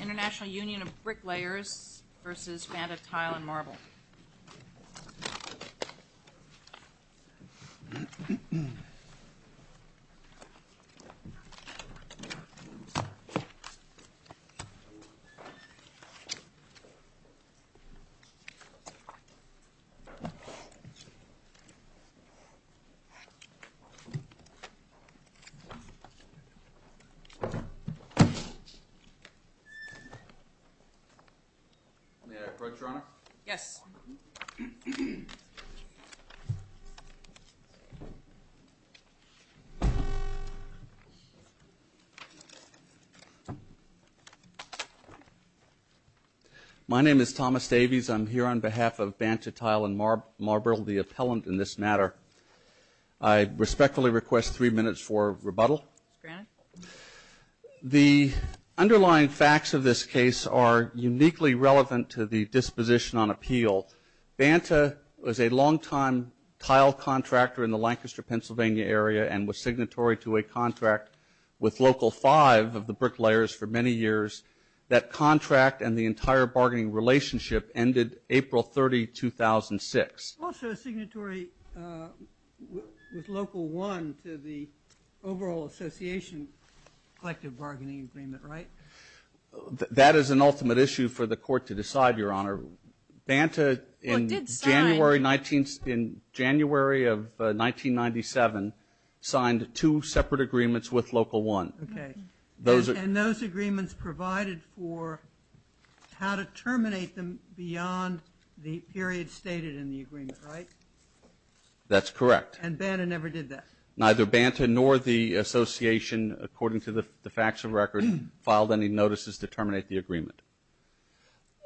International Union of Bricklayers v. Banta Tile&Marble May I approach, Your Honor? Yes. My name is Thomas Davies. I'm here on behalf of Banta Tile&Marble, the appellant in this matter. I respectfully request three minutes for rebuttal. The underlying facts of this case are uniquely relevant to the disposition on appeal. Banta was a long-time tile contractor in the Lancaster, Pennsylvania area and was signatory to a contract with Local 5 of the Bricklayers for many years. That contract and the entire bargaining relationship ended April 30, 2006. Also a signatory with Local 1 to the overall association collective bargaining agreement, right? That is an ultimate issue for the Court to decide, Your Honor. Banta in January of 1997 signed two separate agreements with Local 1. And those agreements provided for how to terminate them beyond the period stated in the agreement, right? That's correct. And Banta never did that? Neither Banta nor the association, according to the facts of record, filed any notices to terminate the agreement.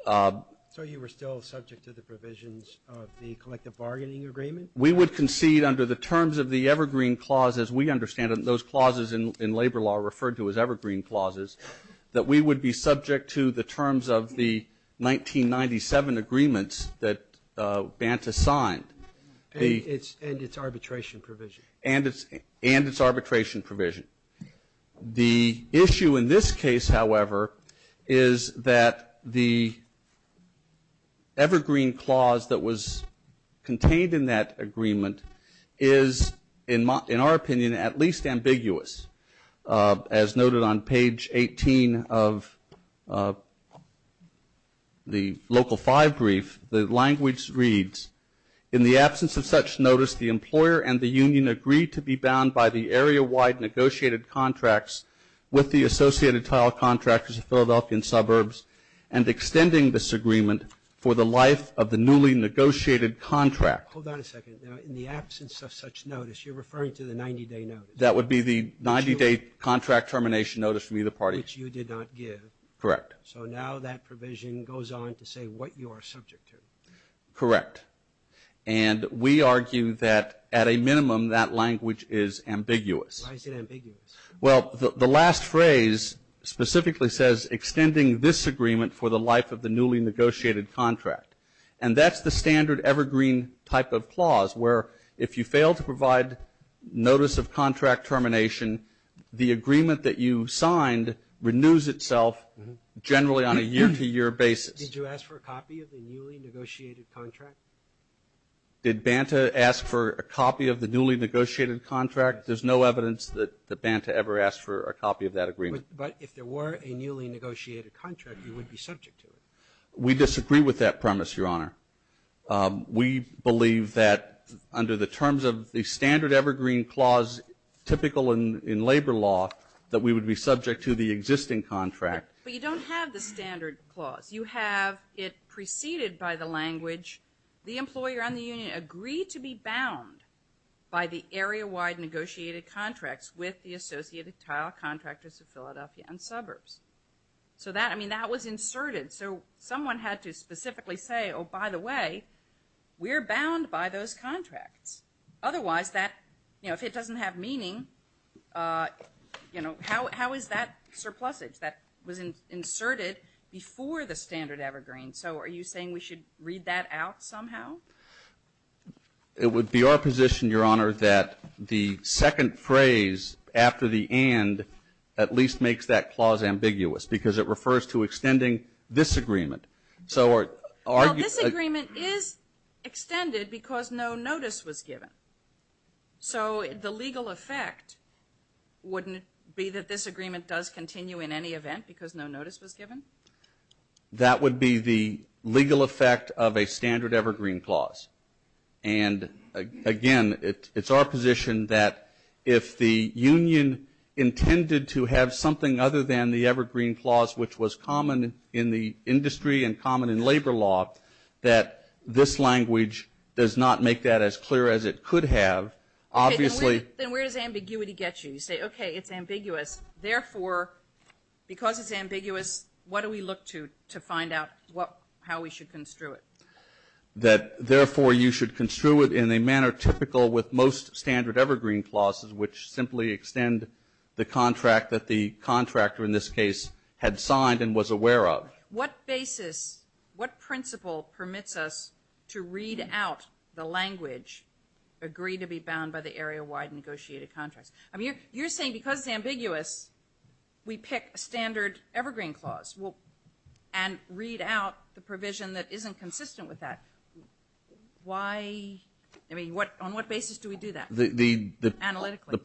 So you were still subject to the provisions of the collective bargaining agreement? We would concede under the terms of the Evergreen Clause, as we understand it, those clauses in labor law referred to as Evergreen Clauses, that we would be subject to the terms of the agreement and its arbitration provision. The issue in this case, however, is that the Evergreen Clause that was contained in that agreement is, in our opinion, at least ambiguous. As noted on page 18 of the Local 5 brief, the language reads, in the absence of such notice, the employer and tenant should be bound by the area-wide negotiated contracts with the associated tile contractors of Philadelphian suburbs and extending this agreement for the life of the newly negotiated contract. Hold on a second. In the absence of such notice, you're referring to the 90-day notice? That would be the 90-day contract termination notice from either party. Which you did not give. Correct. So now that I argue that, at a minimum, that language is ambiguous. Why is it ambiguous? Well, the last phrase specifically says, extending this agreement for the life of the newly negotiated contract. And that's the standard Evergreen type of clause, where if you fail to provide notice of contract termination, the agreement that you signed renews itself generally on a year-to-year basis. Did you ask for a copy of the newly negotiated contract? Did Banta ask for a copy of the newly negotiated contract? There's no evidence that Banta ever asked for a copy of that agreement. But if there were a newly negotiated contract, you would be subject to it. We disagree with that premise, Your Honor. We believe that under the terms of the standard Evergreen clause, typical in labor law, that we would be subject to the existing contract. But you don't have the standard clause. You have it preceded by the language, the employer and the union agree to be bound by the area-wide negotiated contracts with the associated tile contractors of Philadelphia and suburbs. So that, I mean, that was inserted. So someone had to specifically say, oh, by the way, we're bound by those contracts. Otherwise that, you know, if it doesn't have meaning, you know, how is that surplusage that was inserted before the standard Evergreen? So are you saying we should read that out somehow? It would be our position, Your Honor, that the second phrase after the and at least makes that clause ambiguous because it refers to extending this agreement. Well, this agreement is extended because no notice was given. So the legal effect wouldn't be that this agreement does continue in any event because no notice was given? That would be the legal effect of a standard Evergreen clause. And again, it's our position that if the union intended to have something other than the Evergreen clause, which was common in the industry and common in labor law, that this language does not make that as clear as it could have. Obviously Then where does ambiguity get you? You say, okay, it's ambiguous. Therefore, because it's ambiguous, what do we look to to find out how we should construe it? That therefore you should construe it in a manner typical with most standard Evergreen clauses, which simply extend the contract that the contractor in this case had signed and was aware of. What basis, what basis do we do that? The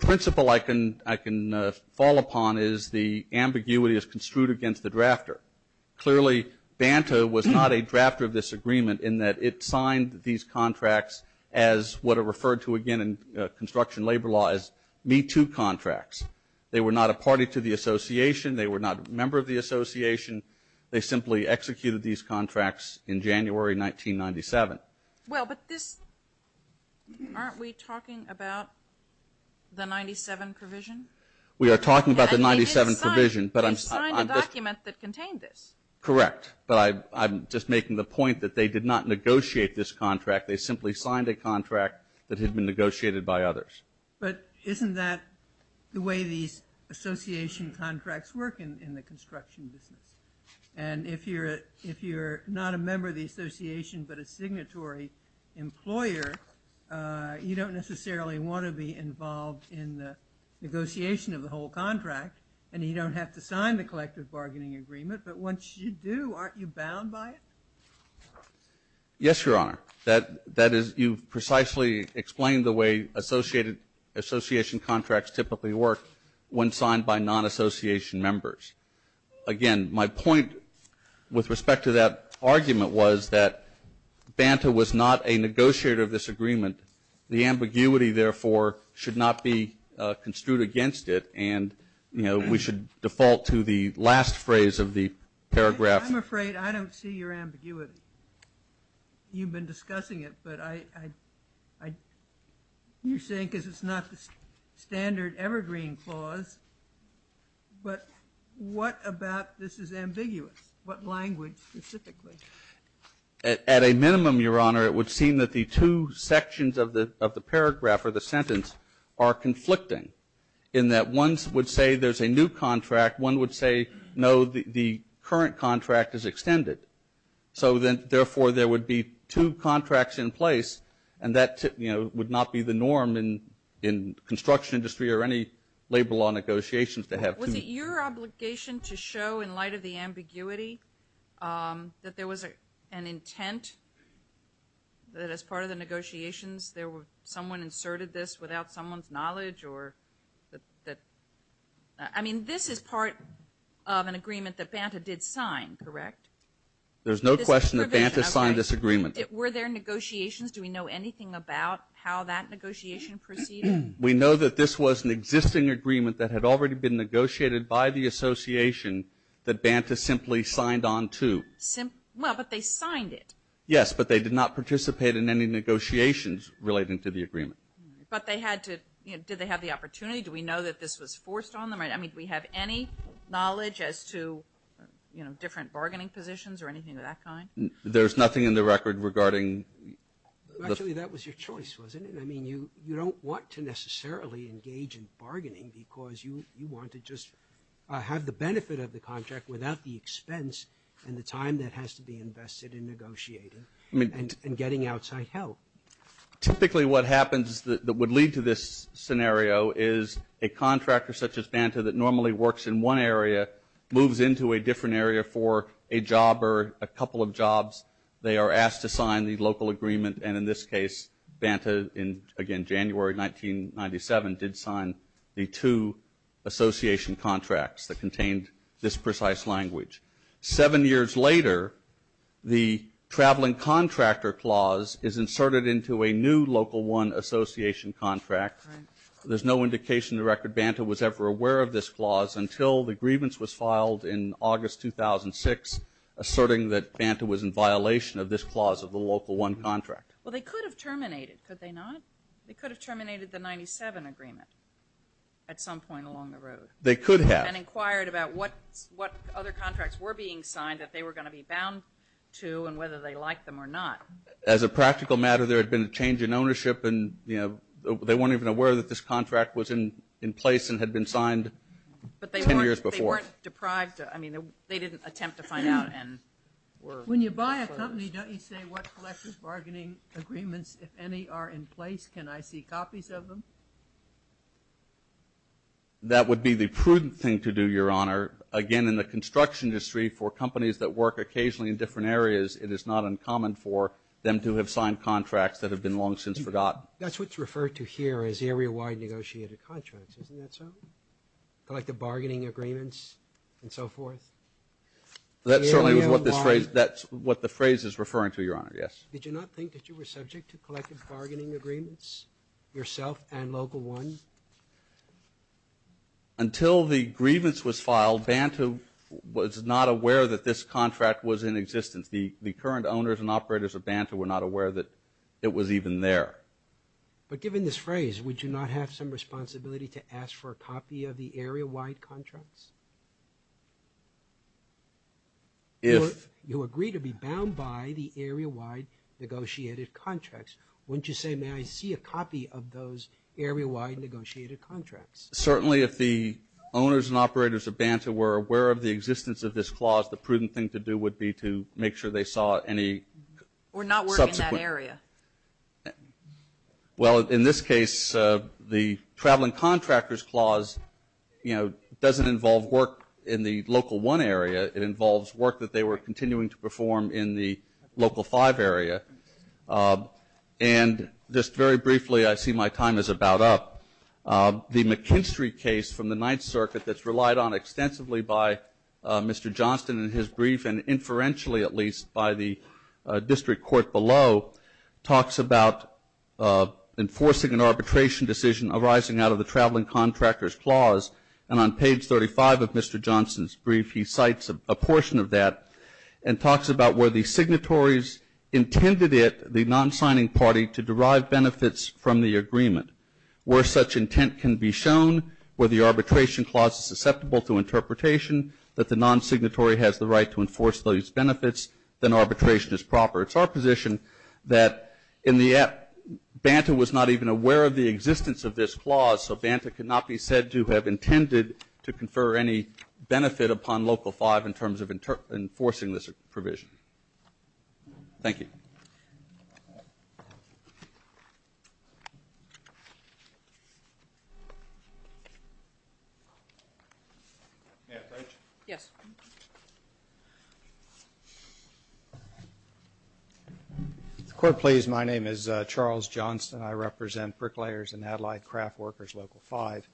principle I can fall upon is the ambiguity is construed against the drafter. Clearly, Banta was not a drafter of this agreement in that it signed these contracts as what are referred to again in construction labor law as Me Too contracts. They were not a party to the association. They were not a member of the association. They simply executed these contracts in January 1997. Well, but this, aren't we talking about the 97 provision? We are talking about the 97 provision. But I've signed a document that contained this. Correct. But I'm just making the point that they did not negotiate this contract. They simply signed a contract that had been negotiated by others. But isn't that the way these association contracts work in the construction business? And if you're not a member of the association but a signatory employer, you don't necessarily want to be involved in the negotiation of the whole contract. And you don't have to sign the collective bargaining agreement. But once you do, aren't you bound by it? Yes, Your Honor. That is, you've precisely explained the way associated association contracts typically work when signed by non-association members. Again, my point with respect to that argument was that Banta was not a negotiator of this agreement. The ambiguity, therefore, should not be construed against it. And we should default to the last phrase of the paragraph. I'm afraid I don't see your ambiguity. You've been discussing it. But you're saying because it's not the standard evergreen clause. But what about this is ambiguous? What language specifically? At a minimum, Your Honor, it would seem that the two would be in that one would say there's a new contract. One would say, no, the current contract is extended. So then, therefore, there would be two contracts in place. And that would not be the norm in construction industry or any labor law negotiations to have two. Was it your obligation to show in light of the ambiguity that there was an intent that as part of the negotiations there were someone inserted this without someone's knowledge? I mean, this is part of an agreement that Banta did sign, correct? There's no question that Banta signed this agreement. Were there negotiations? Do we know anything about how that negotiation proceeded? We know that this was an existing agreement that had already been negotiated by the association that Banta simply signed on to. Well, but they signed it. Yes, but they did not participate in any negotiations relating to the agreement. But they had to, you know, did they have the opportunity? Do we know that this was forced on them? I mean, do we have any knowledge as to, you know, different bargaining positions or anything of that kind? There's nothing in the record regarding. Actually, that was your choice, wasn't it? I mean, you don't want to be negotiated and getting outside help. Typically what happens that would lead to this scenario is a contractor such as Banta that normally works in one area moves into a different area for a job or a couple of jobs. They are asked to sign the local agreement. And in this case, Banta in, again, January 1997 did sign the two association contracts that contained this precise language. Seven years later, the traveling contractor clause is inserted into a new local one association contract. There's no indication the record Banta was ever aware of this clause until the grievance was filed in August 2006, asserting that Banta was in violation of this clause of the local one contract. Well, they could have terminated, could they not? They could have terminated the 97 agreement at some point along the road. They could have. And inquired about what other contracts were being signed that they were going to be bound to and whether they liked them or not. As a practical matter, there had been a change in ownership and they weren't even aware that this contract was in place and had been signed ten years before. But they weren't deprived. I mean, they didn't attempt to find out. When you buy a company, don't you say what collective bargaining agreements, if any, are in place? Can I see copies of them? That would be the prudent thing to do, Your Honor. Again, in the construction industry, for companies that work occasionally in different areas, it is not uncommon for them to have signed contracts that have been long since forgotten. That's what's referred to here as area-wide negotiated contracts, isn't that so? Collective bargaining agreements and so forth. That's certainly what this phrase, that's what the phrase is referring to, Your Honor, yes. Did you not think that you were subject to collective bargaining agreements, yourself and Local 1? Until the grievance was filed, Banta was not aware that this contract was in existence. The current owners and operators of Banta were not aware that it was even there. But given this phrase, would you not have some responsibility to ask for a copy of the area-wide negotiated contracts? If you agree to be bound by the area-wide negotiated contracts, wouldn't you say, may I see a copy of those area-wide negotiated contracts? Certainly, if the owners and operators of Banta were aware of the existence of this clause, the prudent thing to do would be to make sure they saw any subsequent. Or not work in that area. Well, in this case, the Traveling Contractors Clause, you know, doesn't involve work in the Local 1 area. It involves work that they were continuing to perform in the Local 5 area. And just very briefly, I see my time is about up. The McKinstry case from the Ninth Circuit that's relied on extensively by Mr. Johnston in his brief, and inferentially at least by the district court below, talks about enforcing an arbitration decision arising out of the Traveling Contractors Clause. And on page 35 of Mr. Johnston's brief, he cites a portion of that and talks about where the signatories intended it, the non-signing party, to derive benefits from the agreement. Where such intent can be the right to enforce those benefits, then arbitration is proper. It's our position that in the end, Banta was not even aware of the existence of this clause, so Banta could not be said to have intended to confer any benefit upon Local 5 in terms of enforcing this provision. Thank you. May I approach? Yes. If the court please, my name is Charles Johnston. I represent Bricklayers and Adelide Craft Workers Local 5.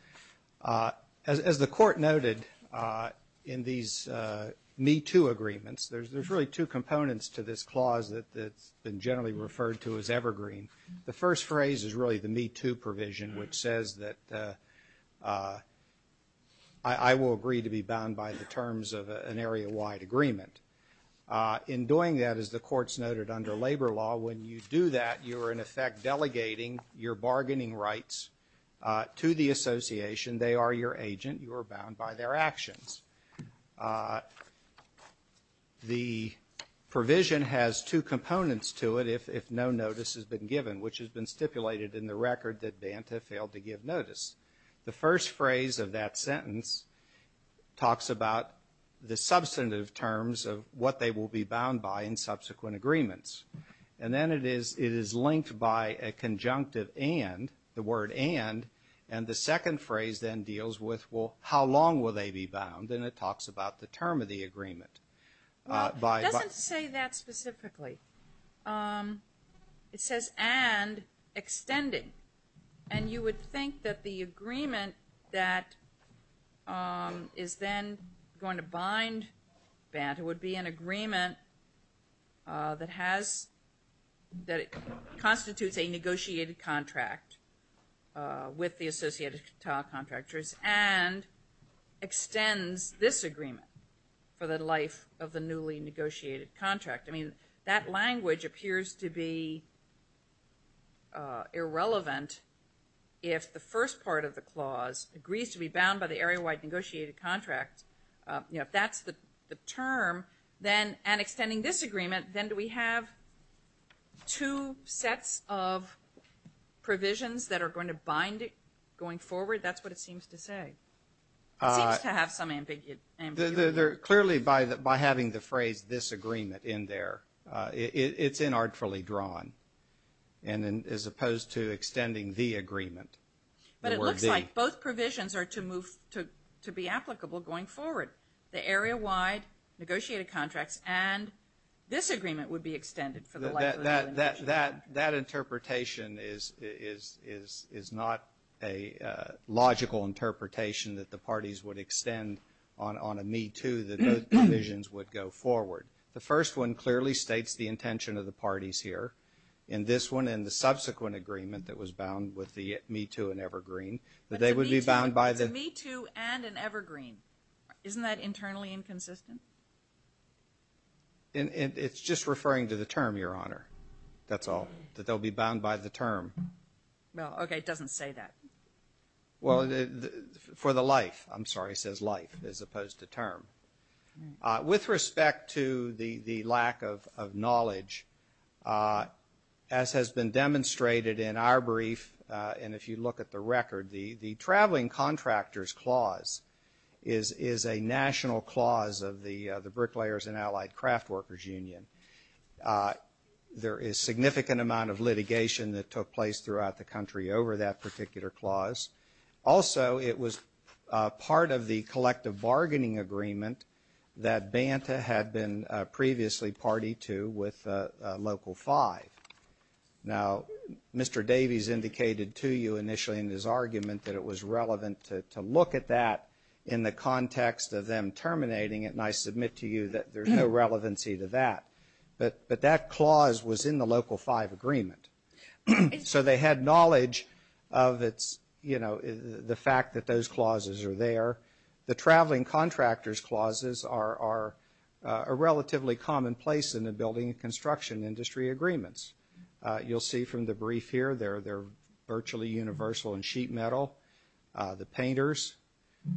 As the court noted in these MeToo agreements, there's really two components to this clause that's been generally referred to as evergreen. The first phrase is really the MeToo provision, which says that I will agree to be bound by the terms of an area-wide agreement. In doing that, as the courts noted under labor law, when you do that, you are in effect delegating your bargaining rights to the association. They are your agent. You are bound by their actions. The provision has two components to it if no notice has been given, which has been stipulated in the record that Banta failed to give notice. The first phrase of that sentence talks about the substantive terms of what they will be bound by in subsequent agreements. And then it is linked by a conjunctive and, the word and, and the second phrase then deals with, well, how long will they be bound? And it talks about the term of the agreement. Well, it doesn't say that specifically. It says and extending. And you would think that the agreement that is then going to bind Banta would be an agreement that constitutes a negotiated contract with the associated contractors and extends this agreement for the life of the newly negotiated contract. I mean, that language appears to be irrelevant if the first part of the clause agrees to be then, and extending this agreement, then do we have two sets of provisions that are going to bind it going forward? That's what it seems to say. It seems to have some ambiguity. Clearly by having the phrase this agreement in there, it's inartfully drawn. And as opposed to extending the agreement. But it looks like both provisions are to be applicable going forward. The area-wide negotiated contracts and this agreement would be extended for the life of the newly negotiated contract. That interpretation is not a logical interpretation that the parties would extend on a Me Too that those provisions would go forward. The first one clearly states the intention of the parties here. And this one and the subsequent agreement that was bound with the Me Too and Evergreen, that they would be bound by the... It's a Me Too and an Evergreen. Isn't that internally inconsistent? It's just referring to the term, Your Honor. That's all. That they'll be bound by the term. Well, okay. It doesn't say that. Well, for the life. I'm sorry. It says life as opposed to term. With respect to the lack of knowledge. As has been demonstrated in our brief, and if you look at the record, the traveling contractors clause is a national clause of the bricklayers and allied craft workers union. There is significant amount of litigation that took place throughout the country over that particular clause. Also, it was part of the collective bargaining agreement that Banta had been previously party to with Local 5. Now, Mr. Davies indicated to you initially in his argument that it was relevant to look at that in the context of them terminating it. And I submit to you that there's no relevancy to that. But that clause was in the Local 5 agreement. So they had knowledge of the fact that those clauses are there. The traveling contractors clauses are a relatively common place in the building and construction industry agreements. You'll see from the brief here, they're virtually universal in sheet metal. The painters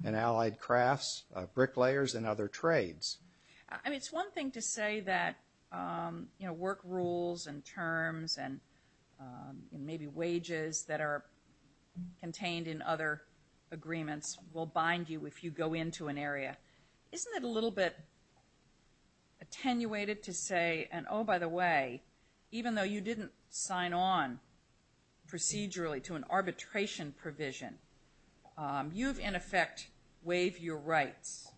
and allied crafts, bricklayers and other trades. I mean, it's one thing to say that work rules and terms and maybe wages that are contained in other agreements will bind you if you go into an area. Isn't it a little bit attenuated to say, and oh, by the way, even though you didn't sign on procedurally to an arbitration provision, you've in effect waived your rights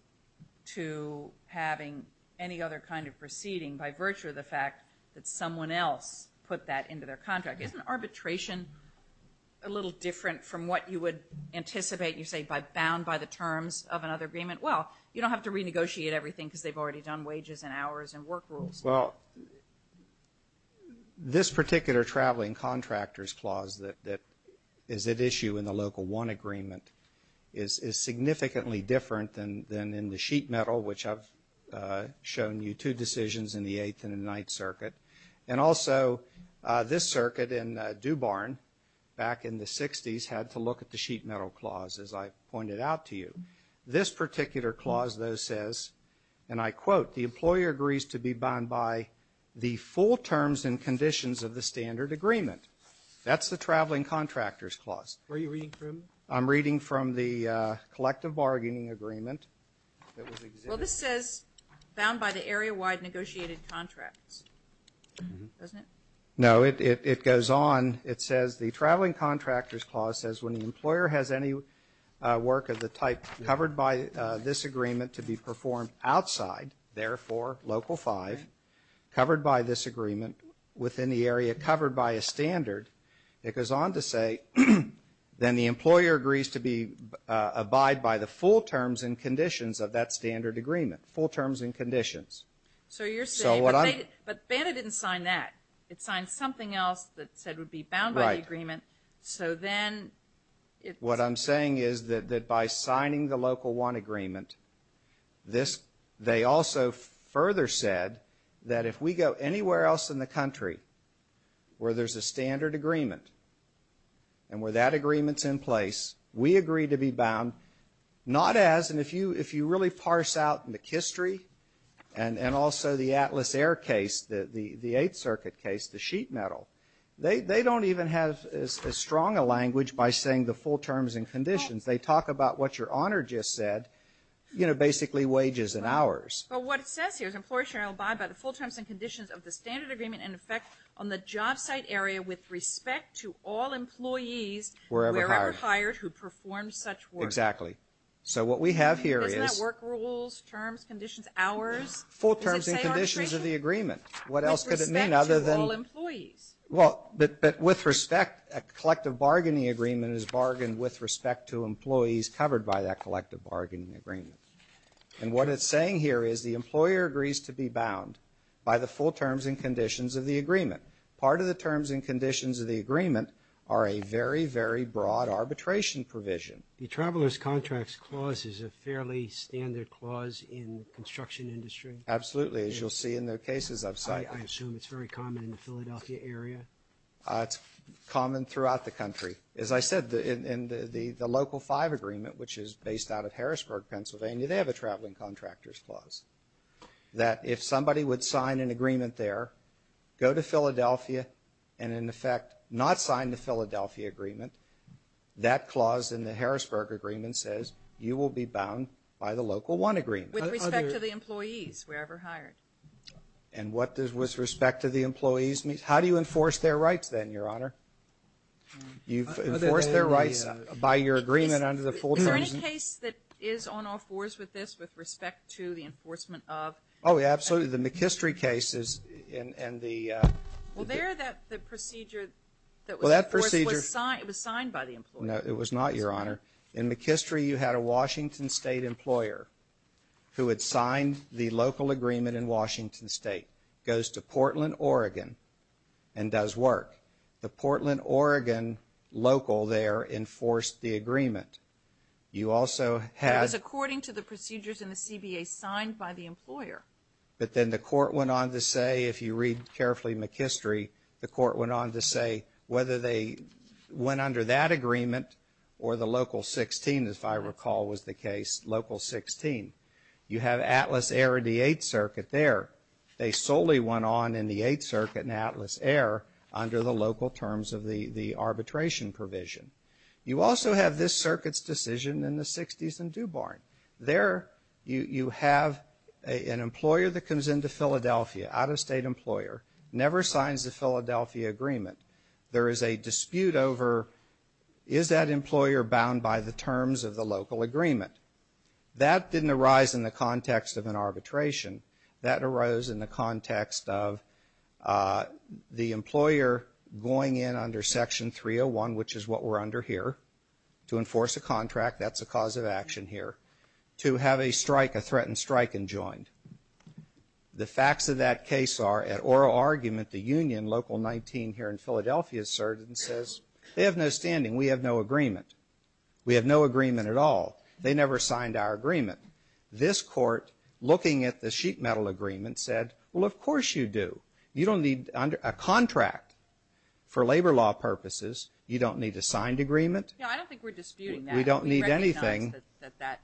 to having any other kind of proceeding by virtue of the fact that someone else put that into their contract. Isn't arbitration a little different from what you would anticipate, you say, bound by the terms of another agreement? Well, you don't have to renegotiate everything because they've already done wages and hours and work rules. Well, this particular traveling contractors clause that is at issue in the Local 1 agreement is significantly different than in the sheet metal, which I've shown you two decisions in the Eighth and Ninth Circuit. And also, this circuit in DuBarn back in the 60s had to look at the sheet metal clause, as I pointed out to you. This particular clause, though, says, and I quote, the employer agrees to be bound by the full terms and conditions of the standard agreement. That's the traveling contractors clause. Where are you reading from? I'm reading from the collective bargaining agreement. Well, this says bound by the area-wide negotiated contracts, doesn't it? No, it goes on. It says the traveling contractors clause says when the employer has any work of the type covered by this agreement to be performed outside, therefore, Local 5, covered by this agreement within the area covered by a standard, it goes on to say, then the employer agrees to abide by the full terms and conditions of that standard agreement. Full terms and conditions. So you're saying, but BANDA didn't sign that. It signed something else that said it would be bound by the agreement, so then... What I'm saying is that by signing the Local 1 agreement, they also further said that if we go anywhere else in the country where there's a standard agreement and where that agreement's in place, we agree to be bound not as, and if you really parse out McHistory and also the Atlas Air case, the Eighth Circuit case, the sheet metal, they don't even have as strong a language by saying the full terms and conditions. They talk about what Your Honor just said, basically wages and hours. But what it says here is employer shall abide by the full terms and conditions of the standard agreement in effect on the job site area with respect to all employees wherever hired who perform such work. Exactly. So what we have here is... Isn't that work rules, terms, conditions, hours? Full terms and conditions of the agreement. What else could it mean other than... With respect to all employees. Well, but with respect, a collective bargaining agreement is bargained with respect to employees covered by that collective bargaining agreement. And what it's saying here is the employer agrees to be the full terms and conditions of the agreement are a very, very broad arbitration provision. The Traveler's Contracts Clause is a fairly standard clause in the construction industry? Absolutely. As you'll see in the cases I've cited. I assume it's very common in the Philadelphia area? It's common throughout the country. As I said, in the Local Five Agreement, which is based out of Harrisburg, Pennsylvania, they have a Traveling Contractors Clause that if somebody would sign an agreement there, go to Philadelphia, and in effect not sign the Philadelphia agreement, that clause in the Harrisburg Agreement says you will be bound by the Local One Agreement. With respect to the employees wherever hired. And what does with respect to the employees mean? How do you enforce their rights then, Your Honor? You've enforced their rights by your agreement under the full terms. Is there any case that is on all fours with this with respect to the enforcement of? Oh, absolutely. The McHistory cases and the... Well, there the procedure that was enforced was signed by the employer. No, it was not, Your Honor. In McHistory, you had a Washington State employer who had signed the local agreement in Washington State. Goes to Portland, Oregon, and does work. The Portland, Oregon local there enforced the agreement. You also had... It was according to the procedures in the CBA signed by the employer. But then the court went on to say, if you read carefully McHistory, the court went on to say whether they went under that agreement or the Local 16, if I recall was the case, Local 16. You have Atlas Air and the Eighth Circuit there. They solely went on in the Eighth Circuit in Atlas Air under the local terms of the arbitration provision. You also have this circuit's decision in the 60s in DuBorn. There you have an employer that comes into Philadelphia, out-of-state employer, never signs the Philadelphia agreement. There is a dispute over is that employer bound by the terms of the local agreement? That didn't arise in the context of an arbitration. That arose in the context of the employer going in under Section 301, which is what we're under here, to enforce a contract. That's a cause of action here. To have a strike, a threatened strike, enjoined. The facts of that case are, at oral argument, the union, Local 19 here in Philadelphia, asserted and we have no agreement. We have no agreement at all. They never signed our agreement. This Court, looking at the sheet metal agreement, said, well, of course you do. You don't need a contract for labor law purposes. You don't need a signed agreement. No, I don't think we're disputing that. We don't need anything. We recognize that that.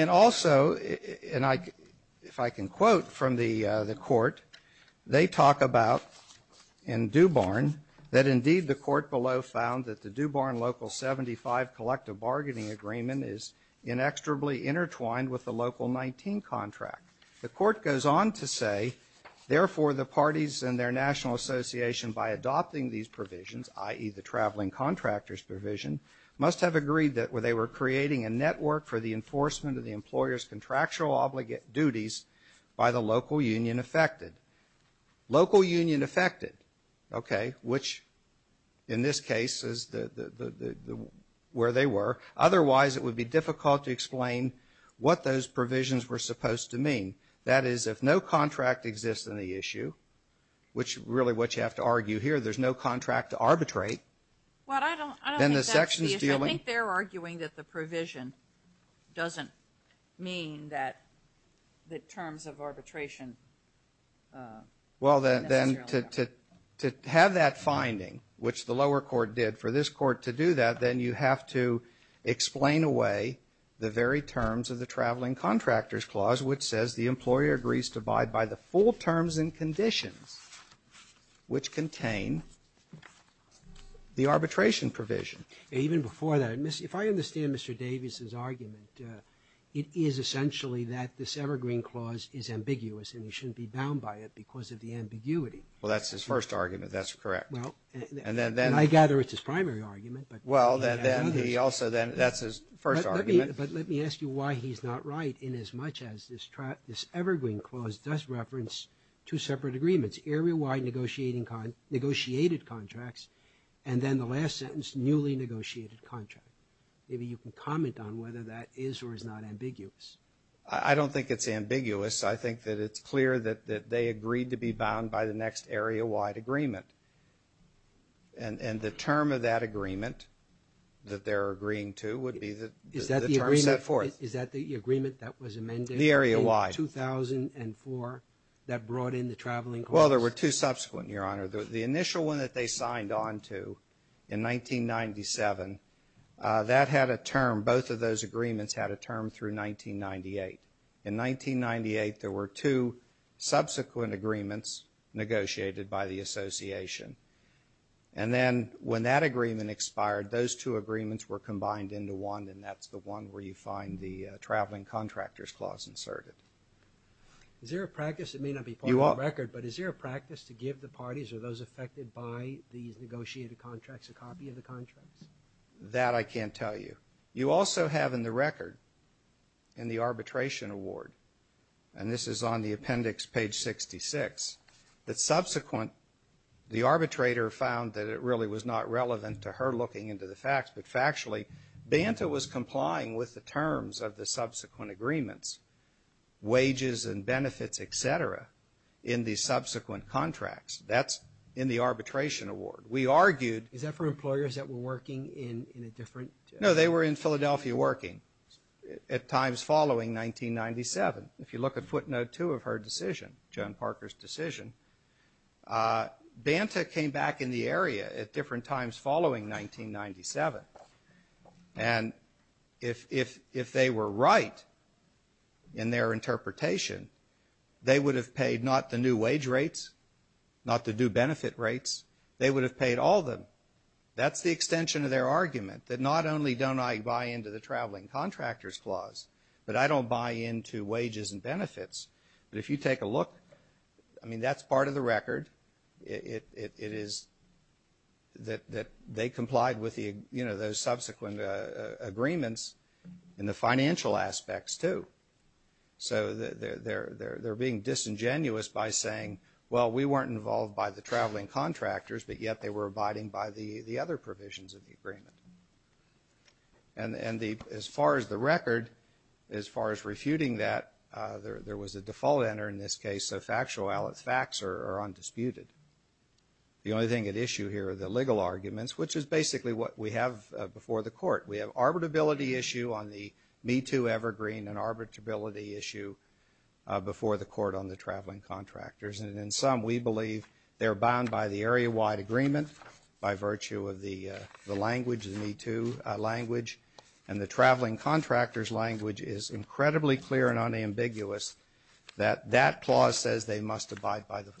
And also, and if I can quote from the Court, they talk about, in DuBarn, that indeed the Court below found that the DuBarn Local 75 collective bargaining agreement is inextricably intertwined with the Local 19 contract. The Court goes on to say, therefore, the parties and their national association, by adopting these provisions, i.e., the traveling contractors provision, must have agreed that they were creating a network for the enforcement of the employer's contractual obligate duties by the local union affected. Local union affected, okay, which in this case is where they were. Otherwise, it would be difficult to explain what those provisions were supposed to mean. That is, if no contract exists in the issue, which really what you have to argue here, there's no contract to arbitrate. Well, I don't think that's the issue. I think they're arguing that the provision doesn't mean that the terms of arbitration Well, then to have that finding, which the lower court did for this court to do that, then you have to explain away the very terms of the traveling contractors clause, which says the employer agrees to abide by the full terms and conditions which contain the arbitration provision. Even before that, if I understand Mr. Davis's argument, it is essentially that this evergreen clause is ambiguous and you shouldn't be bound by it because of the ambiguity. Well, that's his first argument. That's correct. Well, and I gather it's his primary argument. Well, then he also then, that's his first argument. But let me ask you why he's not right inasmuch as this evergreen clause does reference two separate agreements, area-wide negotiated contracts, and then the last sentence, newly negotiated contract. Maybe you can comment on whether that is or is not ambiguous. I don't think it's ambiguous. I think that it's clear that they agreed to be bound by the next area-wide agreement. And the term of that agreement that they're agreeing to would be the terms set forth. Is that the agreement that was amended? The area-wide. The 2004 that brought in the traveling clause? Well, there were two subsequent, Your Honor. The initial one that they signed on to in 1997, that had a term, both of those agreements had a term through 1998. In 1998, there were two subsequent agreements negotiated by the association. And then when that agreement expired, those two agreements were combined into one, and that's the one where you find the traveling contractors clause inserted. Is there a practice? It may not be part of the record, but is there a practice to give the parties or those affected by these negotiated contracts a copy of the contracts? That I can't tell you. You also have in the record, in the arbitration award, and this is on the appendix, page 66, that subsequent, the arbitrator found that it really was not relevant to her looking into the facts, but factually, Banta was complying with the terms of the subsequent agreements, wages and benefits, et cetera, in the subsequent contracts. That's in the arbitration award. We argued. Is that for employers that were working in a different? No, they were in Philadelphia working at times following 1997. If you look at footnote 2 of her decision, Joan Parker's decision, Banta came back in the area at different times following 1997, and if they were right in their interpretation, they would have paid not the new wage rates, not the new benefit rates. They would have paid all of them. That's the extension of their argument, that not only don't I buy into the traveling contractors clause, but I don't buy into wages and benefits. But if you take a look, I mean, that's part of the record. It is that they complied with the, you know, those subsequent agreements in the financial aspects too. So they're being disingenuous by saying, well, we weren't involved by the traveling contractors, but yet they were abiding by the other provisions of the agreement. And as far as the record, as far as refuting that, there was a default enter in this case, so factual facts are undisputed. The only thing at issue here are the legal arguments, which is basically what we have before the court. We have arbitrability issue on the Me Too, Evergreen, and arbitrability issue before the court on the traveling contractors. And in sum, we believe they're bound by the area-wide agreement by virtue of the language, the Me Too language, and the traveling contractors language is incredibly clear and unambiguous that that clause says they must abide by the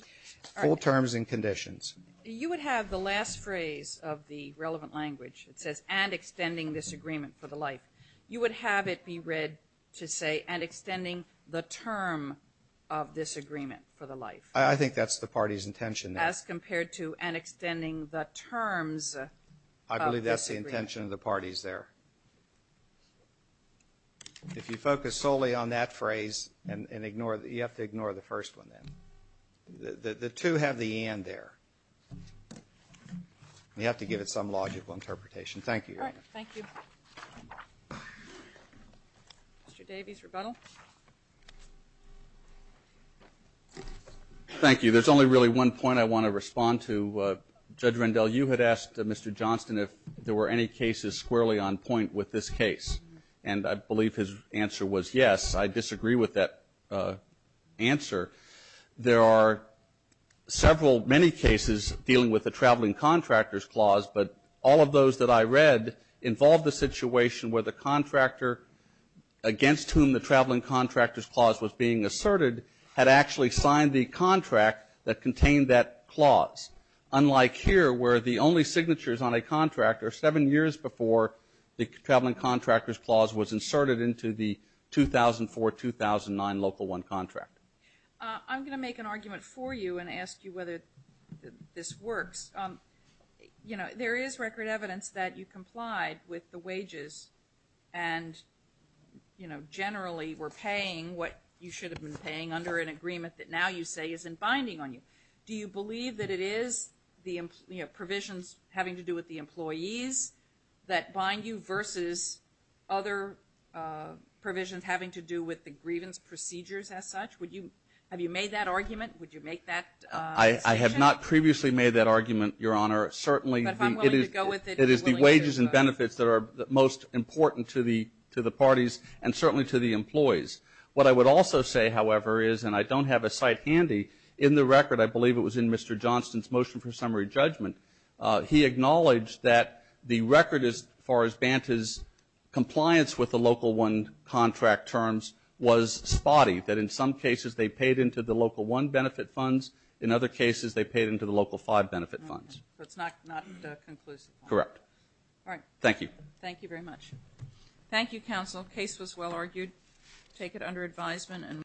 full terms and conditions. You would have the last phrase of the relevant language. It says, and extending this agreement for the life. You would have it be read to say, and extending the term of this agreement for the life. I think that's the party's intention there. As compared to an extending the terms of this agreement. I believe that's the intention of the parties there. If you focus solely on that phrase and ignore it, you have to ignore the first one then. The two have the and there. You have to give it some logical interpretation. Thank you. All right. Thank you. Mr. Davies, rebuttal. Thank you. There's only really one point I want to respond to. Judge Rendell, you had asked Mr. Johnston if there were any cases squarely on point with this case. And I believe his answer was yes. I disagree with that answer. There are several, many cases dealing with the traveling contractors clause, but all of those that I read involved the situation where the contractor against whom the traveling contractors clause was being asserted had actually signed the contract that contained that clause, unlike here where the only signatures on a contract are seven years before the traveling contractors clause was inserted into the 2004-2009 Local 1 contract. I'm going to make an argument for you and ask you whether this works. You know, there is record evidence that you complied with the wages and, you know, generally were paying what you should have been paying under an agreement that now you say isn't binding on you. Do you believe that it is the provisions having to do with the employees that bind you versus other provisions having to do with the grievance procedures as such? Have you made that argument? Would you make that statement? I have not previously made that argument, Your Honor. Certainly, it is the wages and benefits that are most important to the parties and certainly to the employees. What I would also say, however, is, and I don't have a site handy, in the record, I believe it was in Mr. Johnston's motion for summary judgment, he acknowledged that the record as far as Banta's compliance with the Local 1 contract terms was spotty, that in some cases they paid into the Local 1 benefit funds, in other cases they paid into the Local 5 benefit funds. That's not conclusive. Correct. All right. Thank you. Thank you very much. Thank you, counsel. Case was well argued. Take it under advisement.